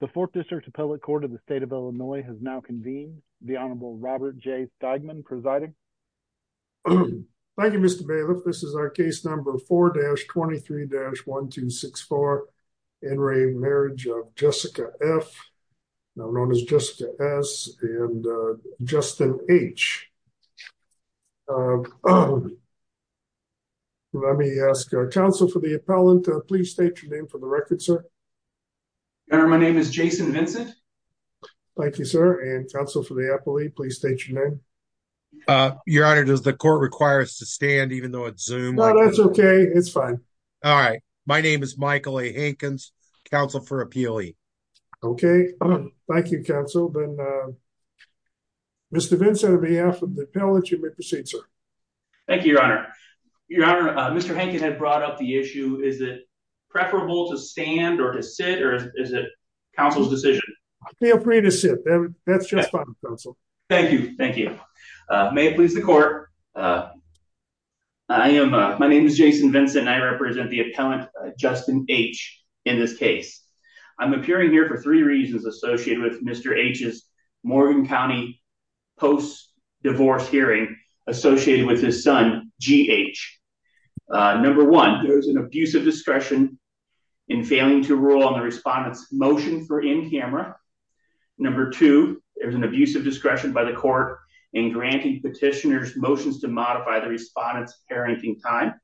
The Fourth District Appellate Court of the State of Illinois has now convened. The Honorable Robert J. Steigman presiding. Thank you, Mr. Bailiff. This is our case number 4-23-1264, In Re Marriage of Jessica F., now known as Jessica S., and Justin H. Let me ask our counsel for the appellant to please state your name for the record, sir. Your Honor, my name is Jason Vincent. Thank you, sir. And counsel for the appellate, please state your name. Your Honor, does the court require us to stand even though it's Zoom? No, that's okay. It's fine. All right. My name is Michael A. Hankins, counsel for appealee. Okay. Thank you, counsel. Then, Mr. Vincent, on behalf of the appellate, you may proceed, sir. Thank you, Your Honor. Your Honor, Mr. Hankins had brought up the issue, is it preferable to stand or to sit, or is it counsel's decision? I feel free to sit. That's just fine, counsel. Thank you. Thank you. May it please the court. My name is Jason Vincent, and I represent the appellant, Justin H., in this case. I'm appearing here for three reasons associated with Mr. H.'s Morgan County post-divorce hearing associated with his son, G.H. Number one, there's an abusive discretion in failing to rule on the respondent's motion for in-camera. Number two, there's an abusive discretion by the court in granting petitioner's motions to modify the respondent's parenting time.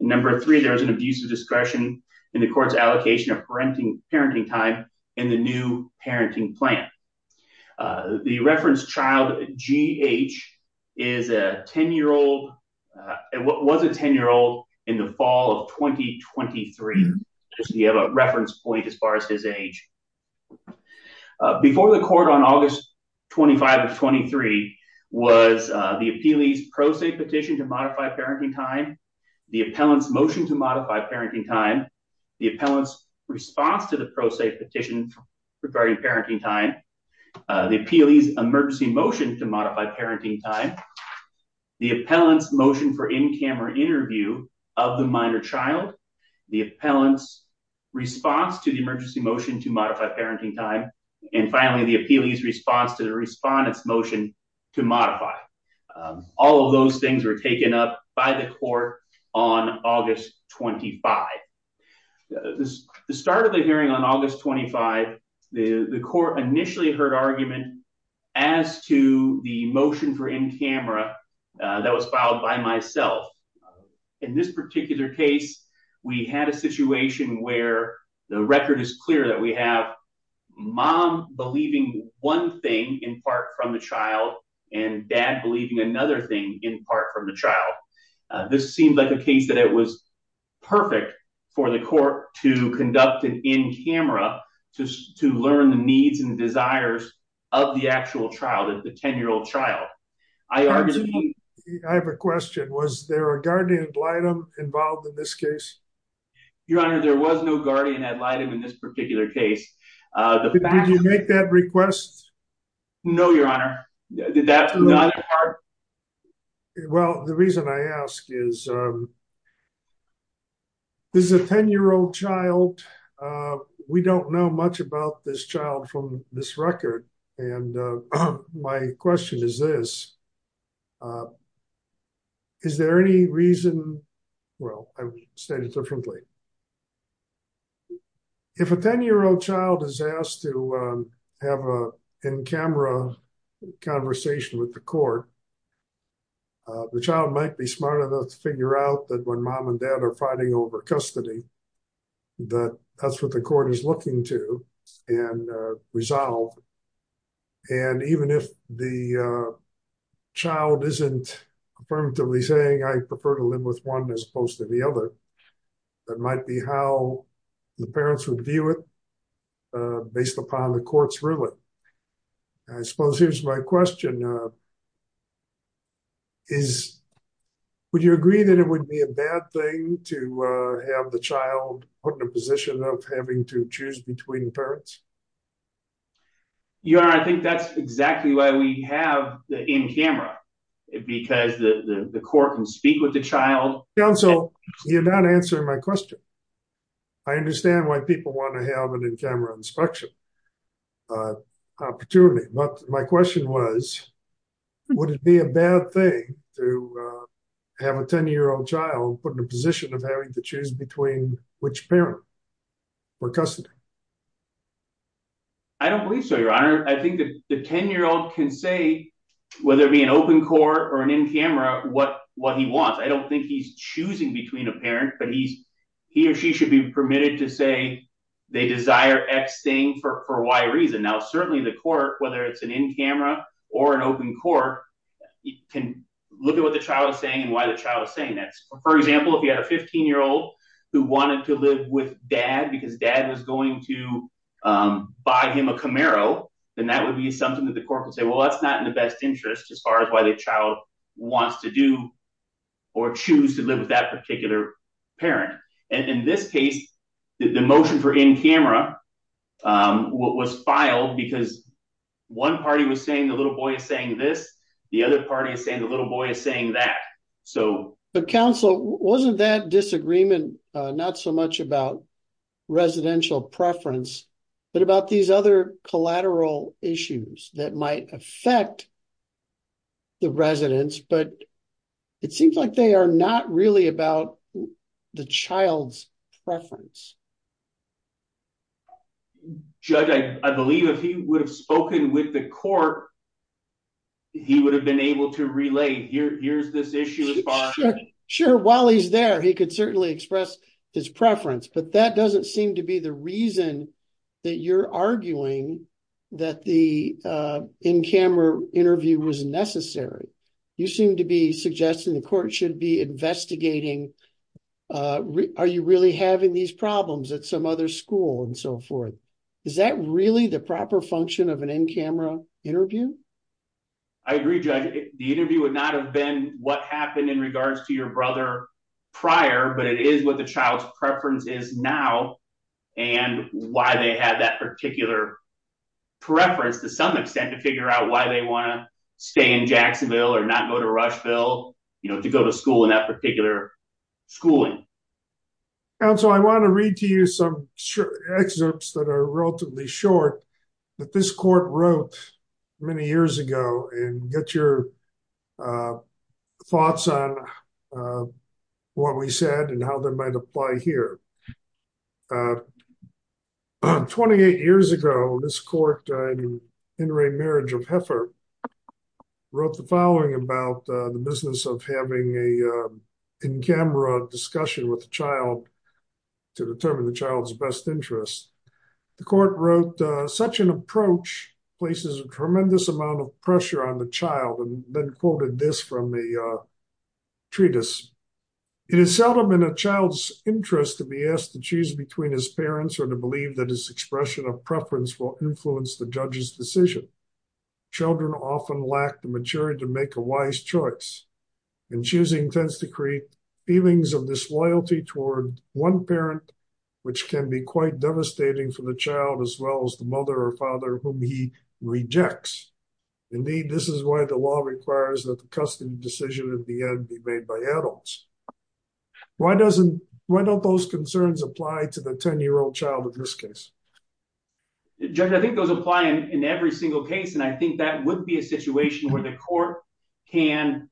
Number three, there's an abusive discretion in the court's allocation of parenting time in the new parenting plan. The reference child, G.H., is a 10-year-old, was a 10-year-old in the fall of 2023. So you have a reference point as far as his age. Before the court on August 25 of 23 was the appellee's pro se petition to modify parenting time, the appellant's motion to modify parenting time, the appellant's response to the pro se petition to modify parenting time, the appellee's emergency motion to modify parenting time, the appellant's motion for in-camera interview of the minor child, the appellant's response to the emergency motion to modify parenting time, and finally the appellee's response to the respondent's motion to modify. All of those things were taken up by the court on August 25. The start of the hearing on August 25, the court initially heard argument as to the motion for in-camera that was filed by myself. In this particular case, we had a situation where the record is clear that we have mom believing one thing in part from the child and dad believing another thing in part from the child. This seemed like a case that it was perfect for the court to conduct an in-camera to learn the needs and desires of the actual child, the 10-year-old child. I have a question. Was there a guardian ad litem involved in this case? Your Honor, there was no guardian ad litem in this particular case. Did you make that request? No, Your Honor. Did that from the other part? Well, the reason I ask is, this is a 10-year-old child. We don't know much about this child from this record, and my question is this. Is there any reason, well, I'll state it differently. If a 10-year-old child is asked to have an in-camera conversation with the court, the child might be smart enough to figure out that when mom and dad are fighting over custody, that that's what the court is looking to and resolve. Even if the child isn't affirmatively saying, I prefer to live with one as opposed to the other, that might be how the parents would view it based upon the court's ruling. I suppose here's my question. Would you agree that it would be a bad thing to have the child put in a position of having to choose between parents? Your Honor, I think that's exactly why we have the in-camera, because the court can speak with the child. Counsel, you're not answering my question. I understand why people want to have an in-camera inspection opportunity, but my question was, would it be a bad thing to have a 10-year-old child put in a position of having to choose between which parent for custody? I don't believe so, Your Honor. I think that the 10-year-old can say, whether it be an open court or an in-camera, what he wants. I don't think he's choosing between a parent, but he or she should be permitted to say they desire X thing for Y reason. Now, certainly the court, whether it's an in-camera or an open court, can look at what the child is saying and why the child is saying that. For example, if you had a 15-year-old who wanted to live with dad because dad was going to buy him a Camaro, then that would be something that the court would say, well, that's not in the best interest as far as why the child wants to do or choose to live with that particular parent. In this case, the motion for in-camera was filed because one party was saying the little boy is saying this, the other party is saying the little boy is saying that. So- But counsel, wasn't that disagreement not so much about residential preference, but about these other collateral issues that might affect the residents? But it seems like they are not really about the child's preference. Judge, I believe if he would have spoken with the court, he would have been able to relay here's this issue as far as- Sure. While he's there, he could certainly express his preference. But that doesn't seem to be the reason that you're arguing that the in-camera interview was necessary. You seem to be suggesting the court should be investigating, are you really having these problems at some other school and so forth? Is that really the proper function of an in-camera interview? I agree, Judge. The interview would not have been what happened in regards to your brother prior, but it is what the child's preference is now and why they had that particular preference to some extent to figure out why they want to stay in Jacksonville or not go to Rushville to go to school in that particular schooling. Counsel, I want to read to you some excerpts that are relatively short that this court wrote many years ago and get your thoughts on what we said and how they might apply here. Twenty-eight years ago, this court in In Re Marriage of Heifer wrote the following about the business of having a in-camera discussion with the child to determine the child's best interests. The court wrote, such an approach places a tremendous amount of pressure on the child and then quoted this from the treatise. It is seldom in a child's interest to be asked to choose between his parents or to believe that his expression of preference will influence the judge's decision. Children often lack the maturity to make a wise choice and choosing tends to create feelings of disloyalty toward one parent, which can be quite devastating for the child, as well as the mother or father whom he rejects. Indeed, this is why the law requires that the custody decision at the end be made by adults. Why don't those concerns apply to the 10-year-old child in this case? I think those apply in every single case, and I think that would be a situation where the court can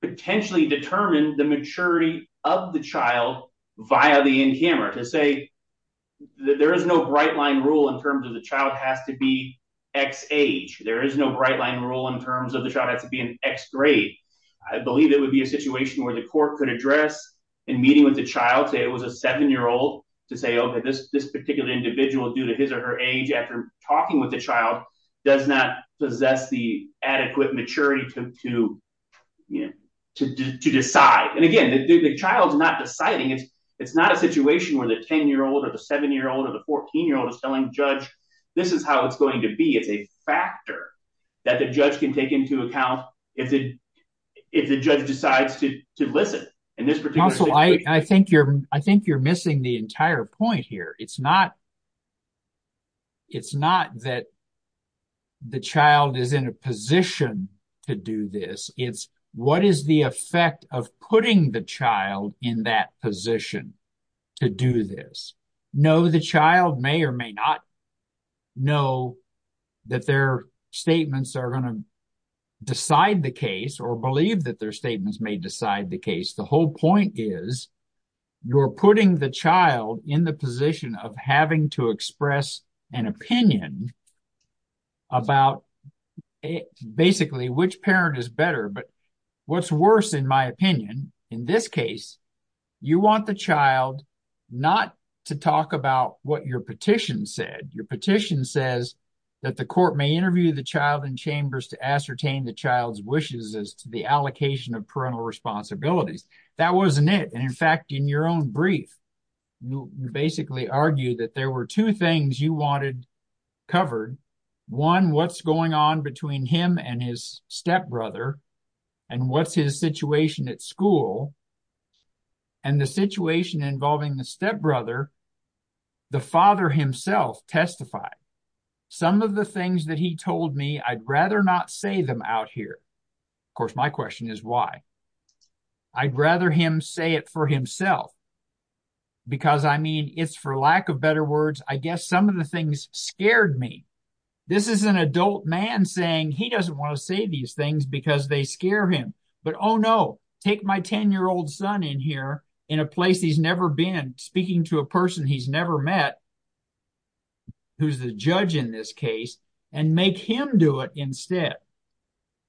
potentially determine the maturity of the child via the in-camera. To say that there is no bright line rule in terms of the child has to be X age. There is no bright line rule in terms of the child has to be an X grade. I believe it would be a situation where the court could address in meeting with the child, say it was a 7-year-old, to say, OK, this particular individual due to his or her age after talking with the child does not possess the adequate maturity to decide. And again, the child is not deciding. It's not a situation where the 10-year-old or the 7-year-old or the 14-year-old is telling the judge, this is how it's going to be. It's a factor that the judge can take into account if the judge decides to listen in this particular situation. Also, I think you're missing the entire point here. It's not that the child is in a position to do this. It's what is the effect of putting the child in that position to do this? No, the child may or may not know that their statements are going to decide the case or believe that their statements may decide the case. The whole point is you're putting the child in the position of having to express an opinion about basically which parent is better. But what's worse, in my opinion, in this case, you want the child not to talk about what your petition said. Your petition says that the court may interview the child in chambers to ascertain the allocation of parental responsibilities. That wasn't it. And in fact, in your own brief, you basically argued that there were two things you wanted covered. One, what's going on between him and his stepbrother and what's his situation at school? And the situation involving the stepbrother, the father himself testified. Some of the things that he told me, I'd rather not say them out here. Of course, my question is why? I'd rather him say it for himself. Because, I mean, it's for lack of better words, I guess some of the things scared me. This is an adult man saying he doesn't want to say these things because they scare him. But oh, no, take my 10-year-old son in here in a place he's never been, speaking to a person he's never met, who's the judge in this case, and make him do it instead.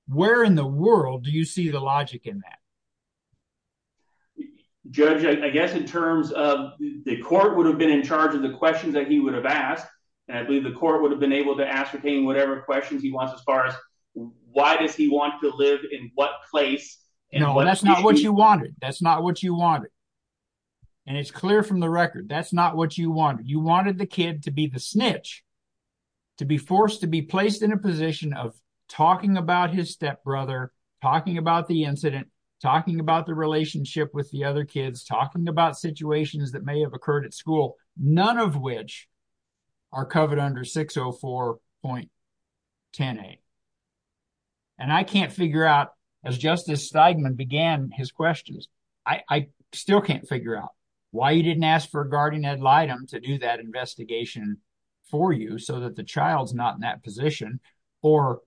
Where in the world do you see the logic in that? Judge, I guess in terms of the court would have been in charge of the questions that he would have asked, and I believe the court would have been able to ascertain whatever questions he wants as far as why does he want to live in what place? No, that's not what you wanted. That's not what you wanted. And it's clear from the record, that's not what you wanted. You wanted the kid to be the snitch, to be forced to be placed in a position of talking about his stepbrother, talking about the incident, talking about the relationship with the other kids, talking about situations that may have occurred at school, none of which are covered under 604.10a. And I can't figure out, as Justice Steigman began his questions, I still can't figure out why you didn't ask for a guardian ad litem to do that investigation for you so that the child's not in that position. Or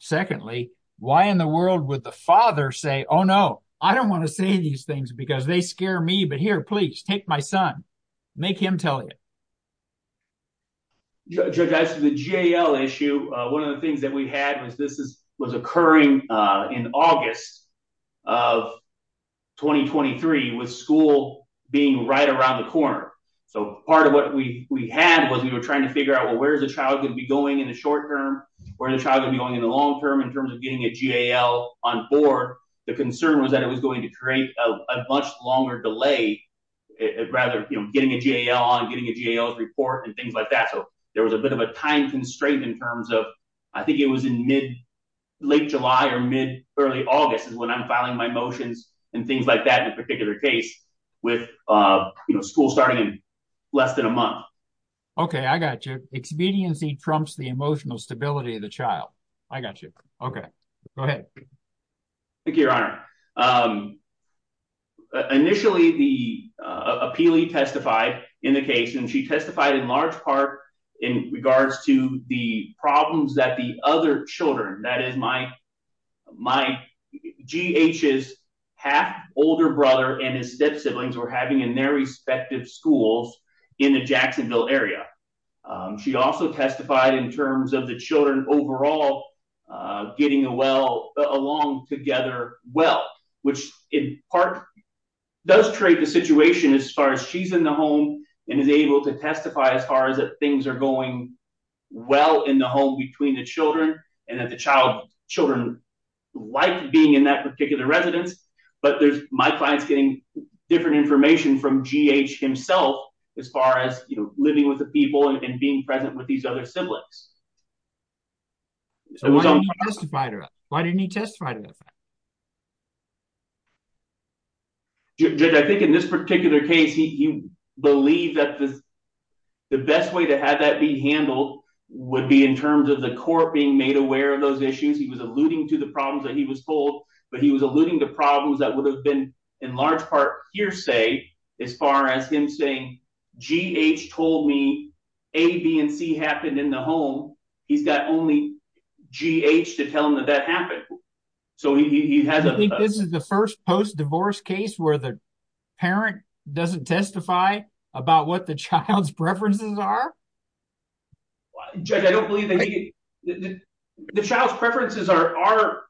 secondly, why in the world would the father say, oh, no, I don't want to say these things because they scare me. But here, please take my son, make him tell you. Judge, as to the JL issue, one of the things that we had was this was occurring in August of 2023, with school being right around the corner. So part of what we had was we were trying to figure out, well, where is the child going to be going in the short term? Where is the child going to be going in the long term in terms of getting a JL on board? The concern was that it was going to create a much longer delay, rather getting a JL on, getting a JL's report and things like that. So there was a bit of a time constraint in terms of I think it was in mid late July or mid early August is when I'm filing my motions and things like that in a particular case with school starting in less than a month. OK, I got you. Expediency trumps the emotional stability of the child. I got you. OK, go ahead. Thank you, Your Honor. Initially, the appealee testified in the case and she testified in large part in regards to the problems that the other children, that is my my G.H.'s half older brother and his step siblings were having in their respective schools in the Jacksonville area. She also testified in terms of the children overall getting along together well, which in part does create the situation as far as she's in the home and is able to testify as far as that things are going well in the home between the children and that the child children like being in that particular residence. But there's my clients getting different information from G.H. himself as far as living with the people and being present with these other siblings. So why didn't you testify to that? Why didn't you testify to that? Judge, I think in this particular case, he believed that the best way to have that be handled would be in terms of the court being made aware of those issues. He was alluding to the problems that he was told, but he was alluding to problems that would have been in large part hearsay as far as him saying G.H. told me A, B and C happened in the home. He's got only G.H. to tell him that that happened. So he has this is the first post-divorce case where the parent doesn't testify about what the child's preferences are. Judge, I don't believe that the child's preferences are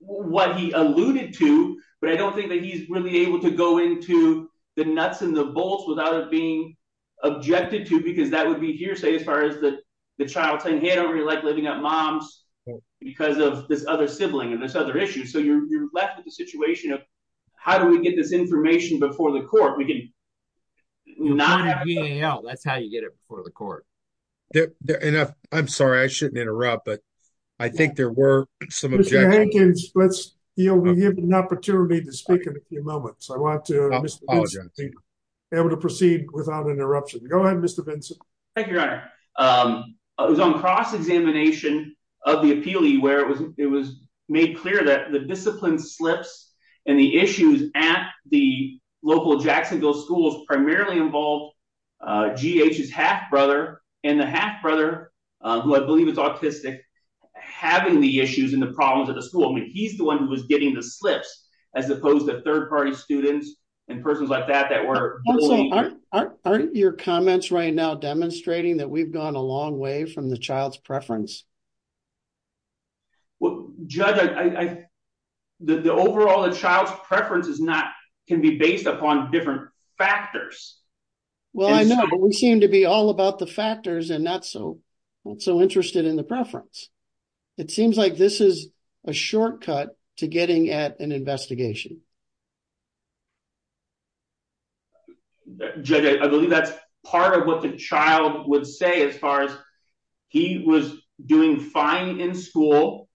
what he alluded to, but I don't think that he's really able to go into the nuts and the bolts without being objected to because that would be hearsay as far as the child saying, hey, I don't really like living at mom's because of this other sibling and this other issue. So you're left with the situation of how do we get this information before the court? We can not have G.A.L. That's how you get it before the court. I'm sorry, I shouldn't interrupt, but I think there were some objections. Mr. Hankins, you'll be given an opportunity to speak in a few moments. I want to be able to proceed without interruption. Go ahead, Mr. Benson. Thank you, Your Honor. It was on cross-examination of the appealee where it was made clear that the discipline slips and the issues at the local Jacksonville schools primarily involved G.H.'s half-brother and the half-brother, who I believe is autistic, having the issues and the problems at the school. I mean, he's the one who was getting the slips as opposed to third-party students and persons like that that were bullying. Aren't your comments right now demonstrating that we've gone a long way from the child's preference? Well, Judge, the overall child's preference can be based upon different factors. Well, I know, but we seem to be all about the factors and not so interested in the preference. It seems like this is a shortcut to getting at an investigation. Judge, I believe that's part of what the child would say as far as he was doing fine in school.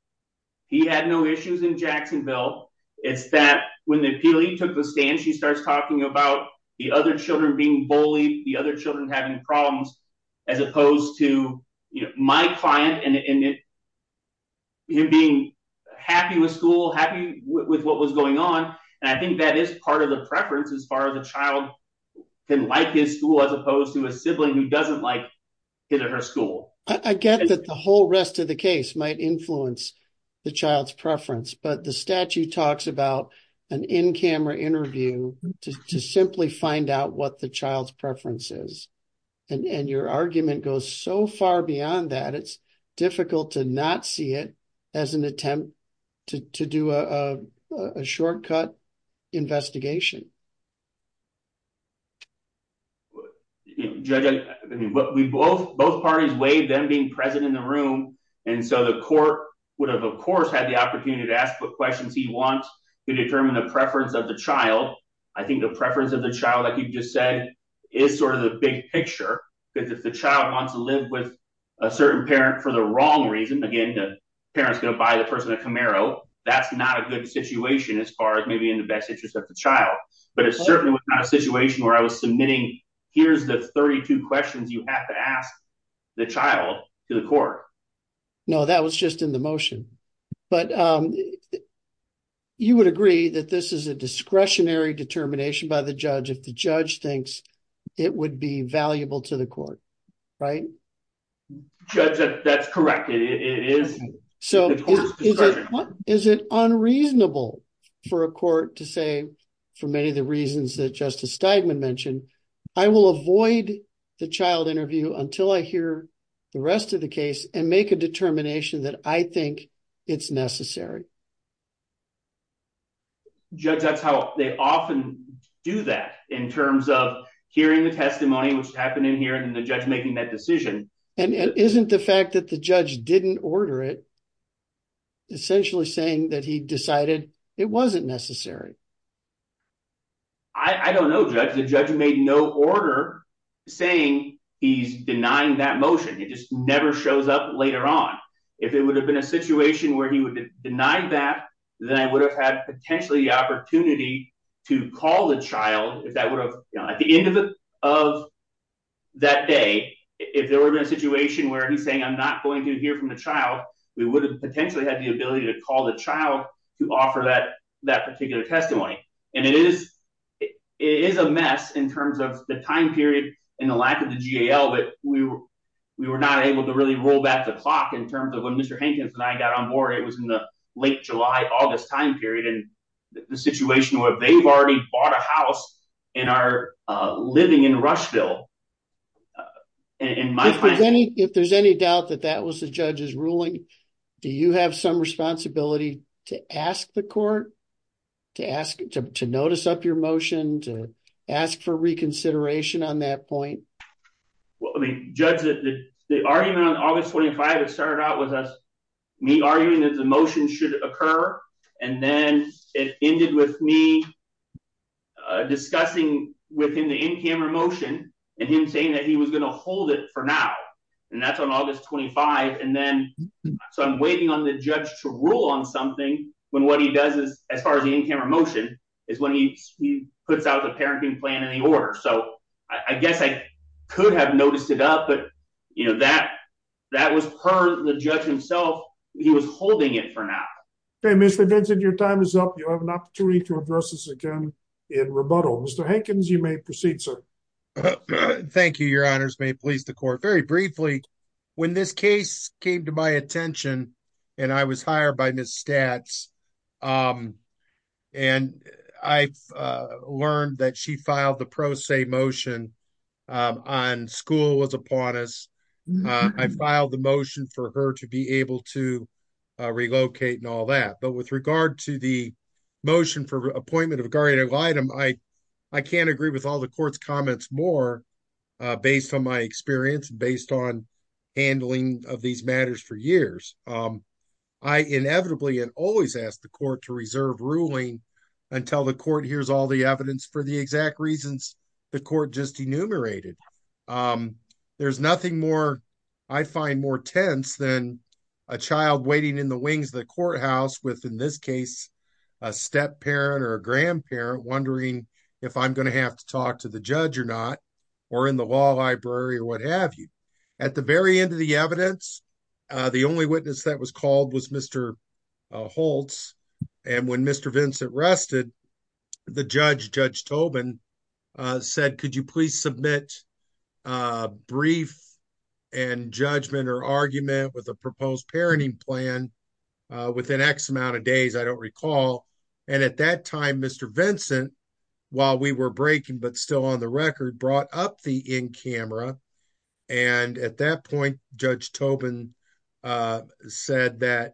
He had no issues in Jacksonville. It's that when the appealee took the stand, she starts talking about the other children being bullied, the other children having problems, as opposed to my client and him being happy with school, happy with what was going on. And I think that is part of the preference as far as the child can like his school as opposed to a sibling who doesn't like his or her school. I get that the whole rest of the case might influence the child's preference, but the statute talks about an in-camera interview to simply find out what the child's preference is. And your argument goes so far beyond that, it's difficult to not see it as an attempt to do a shortcut investigation. Judge, I mean, both parties weighed them being present in the room, and so the court would have, of course, had the opportunity to ask what questions he wants to determine the preference of the child. I think the preference of the child, like you just said, is sort of the big picture, because if the child wants to live with a certain parent for the wrong reason, again, the parent's going to deny the person a Camaro, that's not a good situation as far as maybe in the best interest of the child. But it certainly was not a situation where I was submitting, here's the 32 questions you have to ask the child to the court. No, that was just in the motion. But you would agree that this is a discretionary determination by the judge if the judge thinks it would be valuable to the court, right? Judge, that's correct. It is. So is it unreasonable for a court to say, for many of the reasons that Justice Steigman mentioned, I will avoid the child interview until I hear the rest of the case and make a determination that I think it's necessary. Judge, that's how they often do that in terms of hearing the testimony, which is happening here, and the judge making that decision. And isn't the fact that the judge didn't order it essentially saying that he decided it wasn't necessary? I don't know, Judge. The judge made no order saying he's denying that motion. It just never shows up later on. If it would have been a situation where he would have denied that, then I would have had a situation where he's saying, I'm not going to hear from the child. We would have potentially had the ability to call the child to offer that that particular testimony. And it is a mess in terms of the time period and the lack of the G.A.L. But we were not able to really roll back the clock in terms of when Mr. Hankins and I got on board. It was in the late July, August time period. And the situation where they've already bought a house and are living in Rushville, in my opinion, if there's any doubt that that was the judge's ruling, do you have some responsibility to ask the court to ask to notice up your motion, to ask for reconsideration on that point? Well, I mean, Judge, the argument on August 25, it started out with me arguing that the motion should occur. And then it ended with me discussing with him the in-camera motion and him saying that he was going to hold it for now. And that's on August 25. And then so I'm waiting on the judge to rule on something when what he does is as far as the in-camera motion is when he puts out the parenting plan in the order. So I guess I could have noticed it up. But, you know, that that was her, the judge himself. He was holding it for now. Hey, Mr. Vincent, your time is up. You have an opportunity to address this again in rebuttal. Mr. Hankins, you may proceed, sir. Thank you. Your honors may please the court. Very briefly, when this case came to my attention and I was hired by Ms. Statz and I learned that she filed the pro se motion on school was upon us, I filed the motion for her to be able to relocate and all that. But with regard to the motion for appointment of guardian of item, I I can't agree with all the court's comments more based on my experience, based on handling of these matters for years. I inevitably and always ask the court to reserve ruling until the court hears all the evidence for the exact reasons the court just enumerated. There's nothing more I find more tense than a child waiting in the wings of the courthouse with, in this case, a step parent or a grandparent wondering if I'm going to have to talk to the judge or not or in the law library or what have you. At the very end of the evidence, the only witness that was called was Mr. Holtz. And when Mr. Vincent rested, the judge, Judge Tobin, said, could you please submit a brief and judgment or argument with a proposed parenting plan within X amount of days? I don't recall. And at that time, Mr. Vincent, while we were breaking, but still on the record, brought up the in camera. And at that point, Judge Tobin said that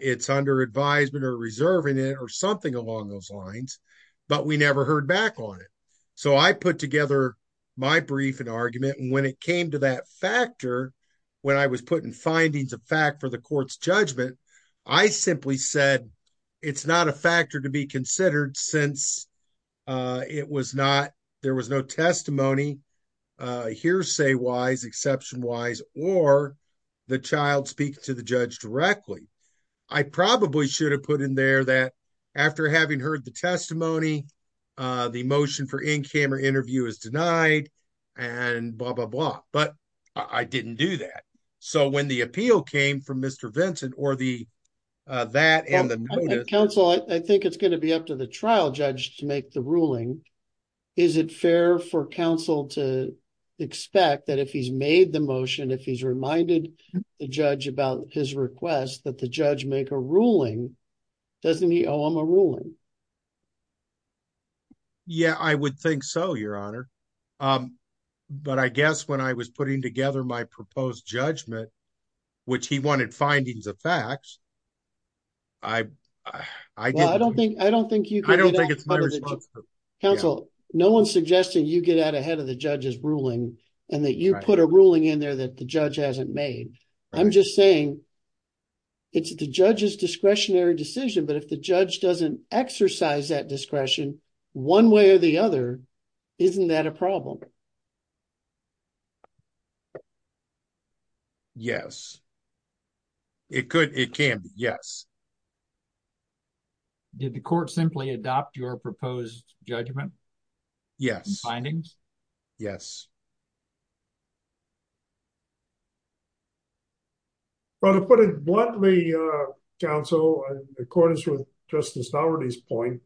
it's under advisement or reserving it or something along those lines. But we never heard back on it. So I put together my brief and argument. And when it came to that factor, when I was putting findings of fact for the court's it's not a factor to be considered since it was not there was no testimony hearsay wise, exception wise, or the child speak to the judge directly. I probably should have put in there that after having heard the testimony, the motion for in camera interview is denied and blah, blah, blah. But I didn't do that. So when the appeal came from Mr. Vincent or the that and the counsel, I think it's going to be up to the trial judge to make the ruling. Is it fair for counsel to expect that if he's made the motion, if he's reminded the judge about his request that the judge make a ruling, doesn't he owe him a ruling? Yeah, I would think so, Your Honor, but I guess when I was putting together my proposed judgment, which he wanted findings of facts. I, I don't think I don't think you I don't think it's my counsel, no one's suggesting you get out ahead of the judge's ruling and that you put a ruling in there that the judge hasn't made. I'm just saying. It's the judge's discretionary decision, but if the judge doesn't exercise that discretion one way or the other, isn't that a problem? Yes. It could, it can be, yes. Did the court simply adopt your proposed judgment? Yes, findings? Yes. But to put it bluntly, counsel, in accordance with Justice Daugherty's point,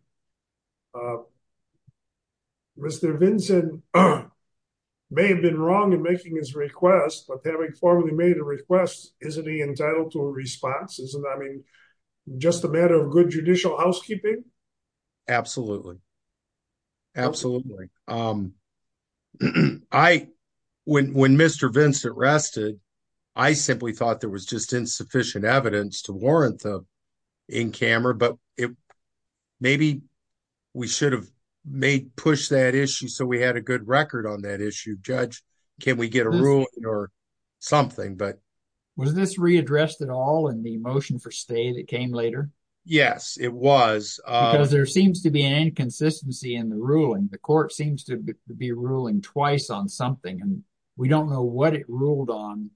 Mr. Havoc formally made a request, isn't he entitled to a response? Isn't that just a matter of good judicial housekeeping? Absolutely. Absolutely. Um, I, when, when Mr. Vincent rested, I simply thought there was just insufficient evidence to warrant the in-camera, but it maybe we should have made push that issue. So we had a good record on that issue. Judge, can we get a ruling or something? But was this readdressed at all in the motion for stay that came later? Yes, it was. Uh, there seems to be an inconsistency in the ruling. The court seems to be ruling twice on something and we don't know what it ruled on,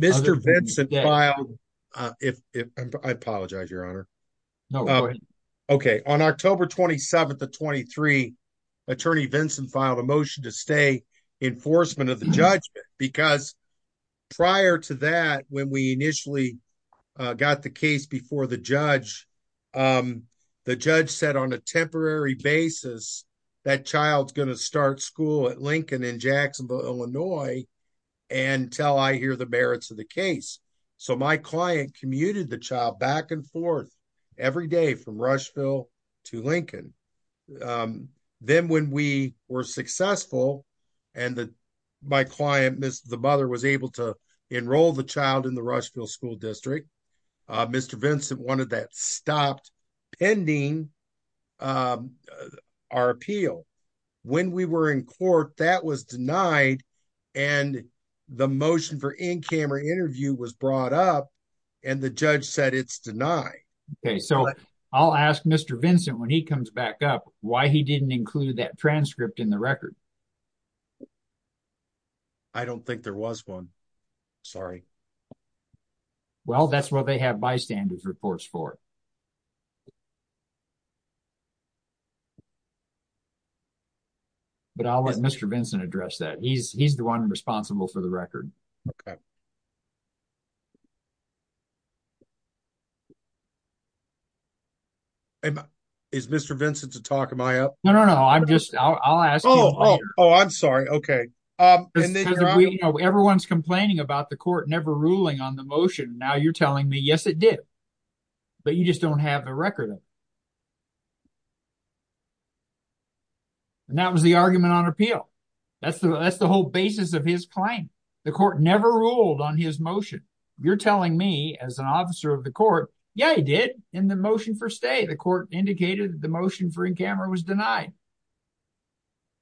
Mr. Vincent filed. Uh, if, if I apologize, your honor. Okay. On October 27th, the 23 attorney, Vincent filed a motion to stay enforcement of the judgment because prior to that, when we initially got the case before the judge, um, the judge said on a temporary basis, that child's going to start school at Lincoln in Jacksonville, Illinois. And tell I hear the merits of the case. So my client commuted the child back and forth every day from Rushville to Lincoln. Um, then when we were successful and the, my client, Ms. The mother was able to enroll the child in the Rushville school district. Uh, Mr. Vincent, one of that stopped pending. Um, our appeal when we were in court that was denied. And the motion for in-camera interview was brought up and the judge said it's denied. Okay. So I'll ask Mr. Vincent when he comes back up, why he didn't include that transcript in the record. I don't think there was one. Sorry. Well, that's what they have bystanders reports for. But I'll let Mr. Vincent address that. He's, he's the one responsible for the record. Is Mr. Vincent to talk? Am I up? No, no, no. I'm just, I'll ask. Oh, I'm sorry. Okay. Um, everyone's complaining about the court, never ruling on the motion. Now you're telling me, yes, it did, but you just don't have a record. And that was the argument on appeal. That's the, that's the whole basis of his claim. The court never ruled on his motion. You're telling me as an officer of the court. Yeah, he did. And the motion for stay, the court indicated that the motion for in-camera was denied.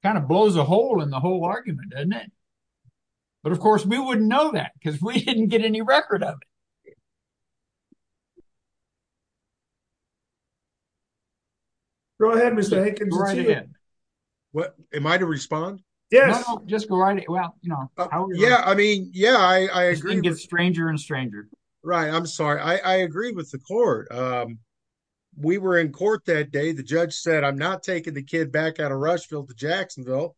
Kind of blows a hole in the whole argument, doesn't it? But of course we wouldn't know that because we didn't get any record of it. Go ahead, Mr. Hankins. What am I to respond? Yes, just go right away. Well, no. Yeah. I mean, yeah, I agree with stranger and stranger. Right. I'm sorry. I agree with the court. Um, we were in court that day. The judge said, I'm not taking the kid back out of Rushfield to Jacksonville.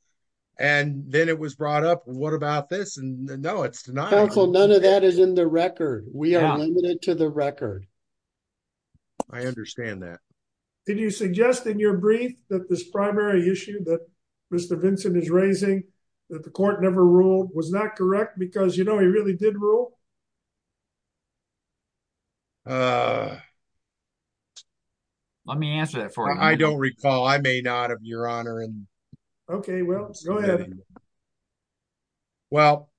And then it was brought up. What about this? And no, it's not. So none of that is in the record. We are limited to the record. I understand that. Did you suggest in your brief that this primary issue that Mr. Vincent is raising that the court never ruled was not correct because, you know, he really did rule. Uh, let me answer that for him. I don't recall. I may not have your honor. And okay, well, go ahead. Well,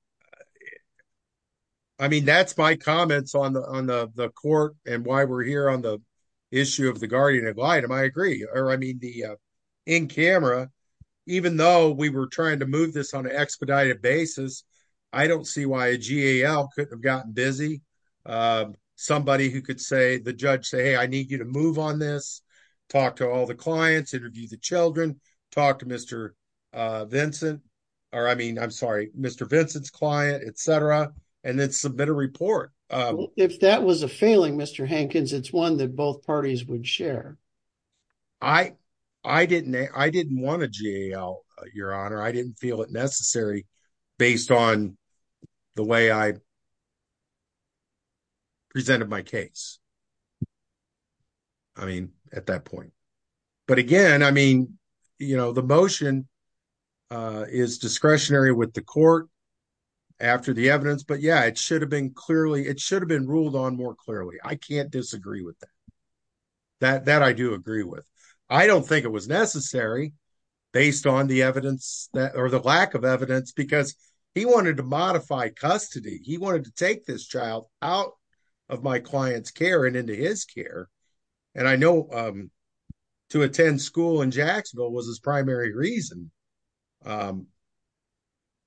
I mean, that's my comments on the, on the court and why we're here on the issue of the guardian of item. I agree. Or I mean the, uh, in camera, even though we were trying to move this on an expedited basis, I don't see why a GAL couldn't have gotten busy. Um, somebody who could say the judge say, Hey, I need you to move on this. Talk to all the clients, interview the children, talk to Mr. Uh, Vincent, or I mean, I'm sorry, Mr. Vincent's client, et cetera. And then submit a report. Um, if that was a failing Mr. Hankins, it's one that both parties would share. I, I didn't, I didn't want a GAL your honor. I didn't feel it necessary based on the way I presented my case. I mean, at that point, but again, I mean, you know, the motion, uh, is discretionary with the court after the evidence, but yeah, it should have been clearly, it should have been ruled on more clearly, I can't disagree with that. That, that I do agree with. I don't think it was necessary based on the evidence that, or the lack of evidence, because he wanted to modify custody. He wanted to take this child out of my client's care and into his care. And I know, um, to attend school in Jacksonville was his primary reason. Um,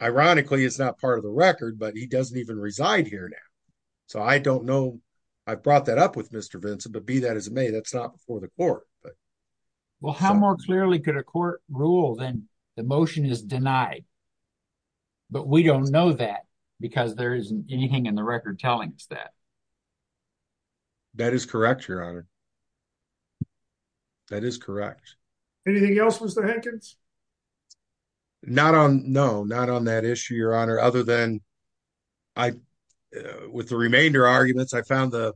ironically it's not part of the record, but he doesn't even reside here now. So I don't know. I brought that up with Mr. Vincent, but be that as it may, that's not before the court, but. Well, how more clearly could a court rule then the motion is denied, but we don't know that because there isn't anything in the record telling us that. That is correct, your honor. That is correct. Anything else? Mr. Hankins? Not on, no, not on that issue, your honor, other than I, uh, with the remainder arguments, I found the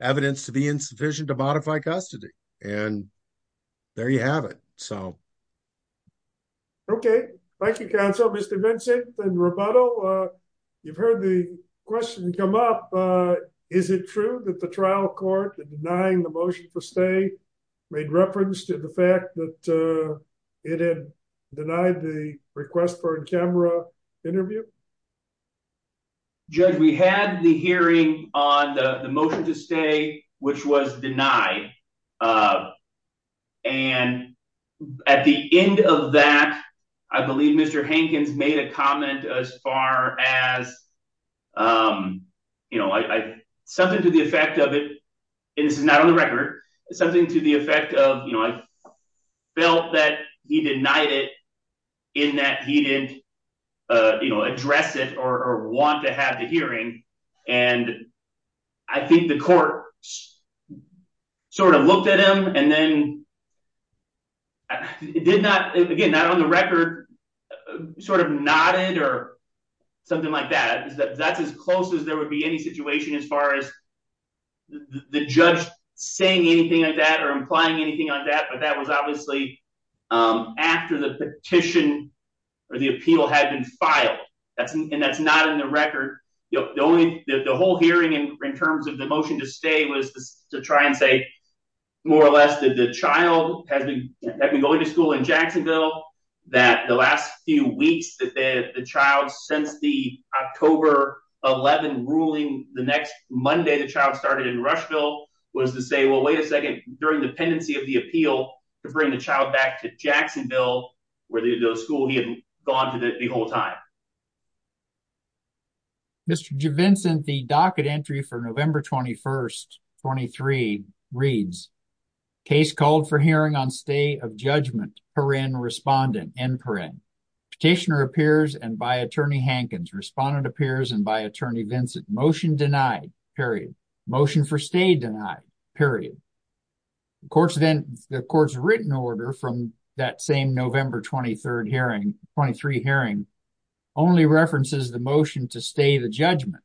evidence to be insufficient to modify custody. And there you have it. So, okay. Thank you, counsel. Mr. Vincent and Roboto, uh, you've heard the question come up. Uh, is it true that the trial court denying the motion for stay made reference to the fact that, uh, it had denied the request for a camera interview? Judge, we had the hearing on the motion to stay, which was denied. Uh, and at the end of that, I believe Mr. Hankins made a comment as far as, um, you know, I, I, something to the effect of it, and this is not on the record, something to the effect of, you know, I felt that he denied it in that he didn't, uh, you know, address it or want to have the hearing. And I think the court sort of looked at him and then it did not, again, not on the record, sort of nodded or something like that, that's as close as there would be any situation as far as the judge saying anything like that or implying anything like that. But that was obviously, um, after the petition or the appeal had been filed. That's, and that's not in the record. The only, the whole hearing in terms of the motion to stay was to try and say more or less that the child has been going to school in Jacksonville, that the last few weeks that the child, since the October 11 ruling, the next Monday the child started in Rushville was to say, well, wait a second during the pendency of the appeal to bring the child back to Jacksonville, where the school he had gone to the whole time. Mr. Vincent, the docket entry for November 21st, 23 reads case called for hearing on stay of judgment per in respondent and per in petitioner appears and by attorney Hankins respondent appears. And by attorney Vincent motion denied period motion for stay denied period. Of course, then the court's written order from that same November 23rd 23 hearing only references the motion to stay the judgment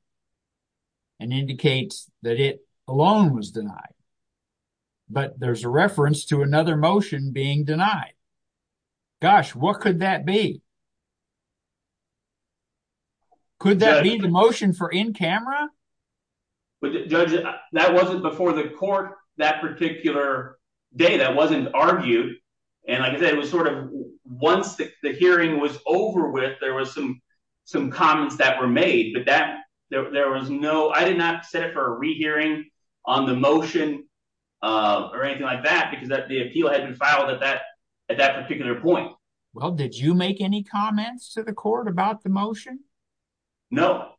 and indicates that it alone was denied. But there's a reference to another motion being denied. Gosh, what could that be? Could that be the motion for in camera? But judge, that wasn't before the court that particular day that wasn't argued. And like I said, it was sort of once the hearing was over with, there was some some comments that were made. But that there was no I did not set it for a rehearing on the motion or anything like that because that the appeal had been filed at that at that particular point. Well, did you make any comments to the court about the motion? No,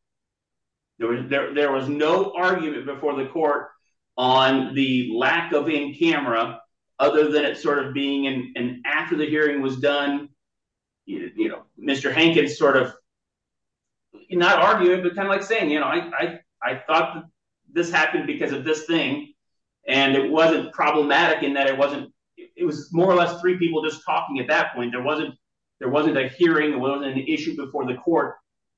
there was no argument before the court on the lack of in camera other than it sort of being an after the hearing was done. You know, Mr. Hankins sort of not arguing, but kind of like saying, you know, I thought this happened because of this thing. And it wasn't problematic in that it wasn't it was more or less three people just talking at that point. There wasn't there wasn't a hearing. It wasn't an issue before the court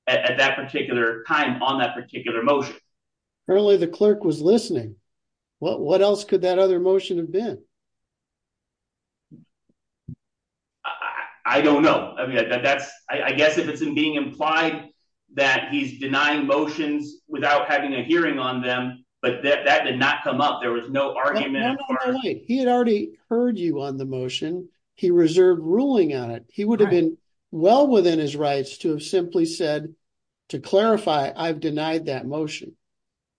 at that particular time on that particular motion. Apparently the clerk was listening. What else could that other motion have been? I don't know. I mean, that's I guess if it's being implied that he's denying motions without having a hearing on them, but that did not come up. There was no argument. He had already heard you on the motion. He reserved ruling on it. He would have been well within his rights to have simply said to clarify. I've denied that motion.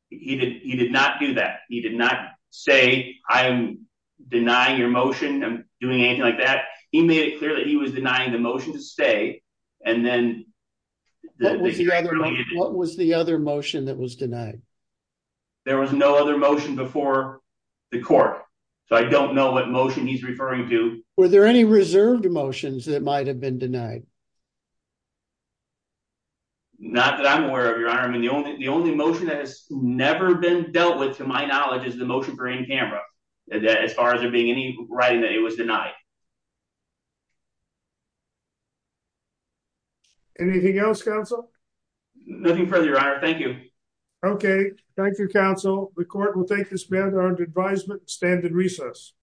He did. He did not do that. He did not say, I'm denying your motion. I'm doing anything like that. He made it clear that he was denying the motion to stay. And then what was the other motion that was denied? There was no other motion before the court. So I don't know what motion he's referring to. Were there any reserved emotions that might have been denied? Not that I'm aware of your arm and the only the only motion that has never been dealt with, to my knowledge, is the motion for in camera, as far as there being any writing that it was denied. Anything else? Counsel, nothing further. I thank you. Okay. Thank you. Counsel. The court will take this man under advisement. Stand in recess.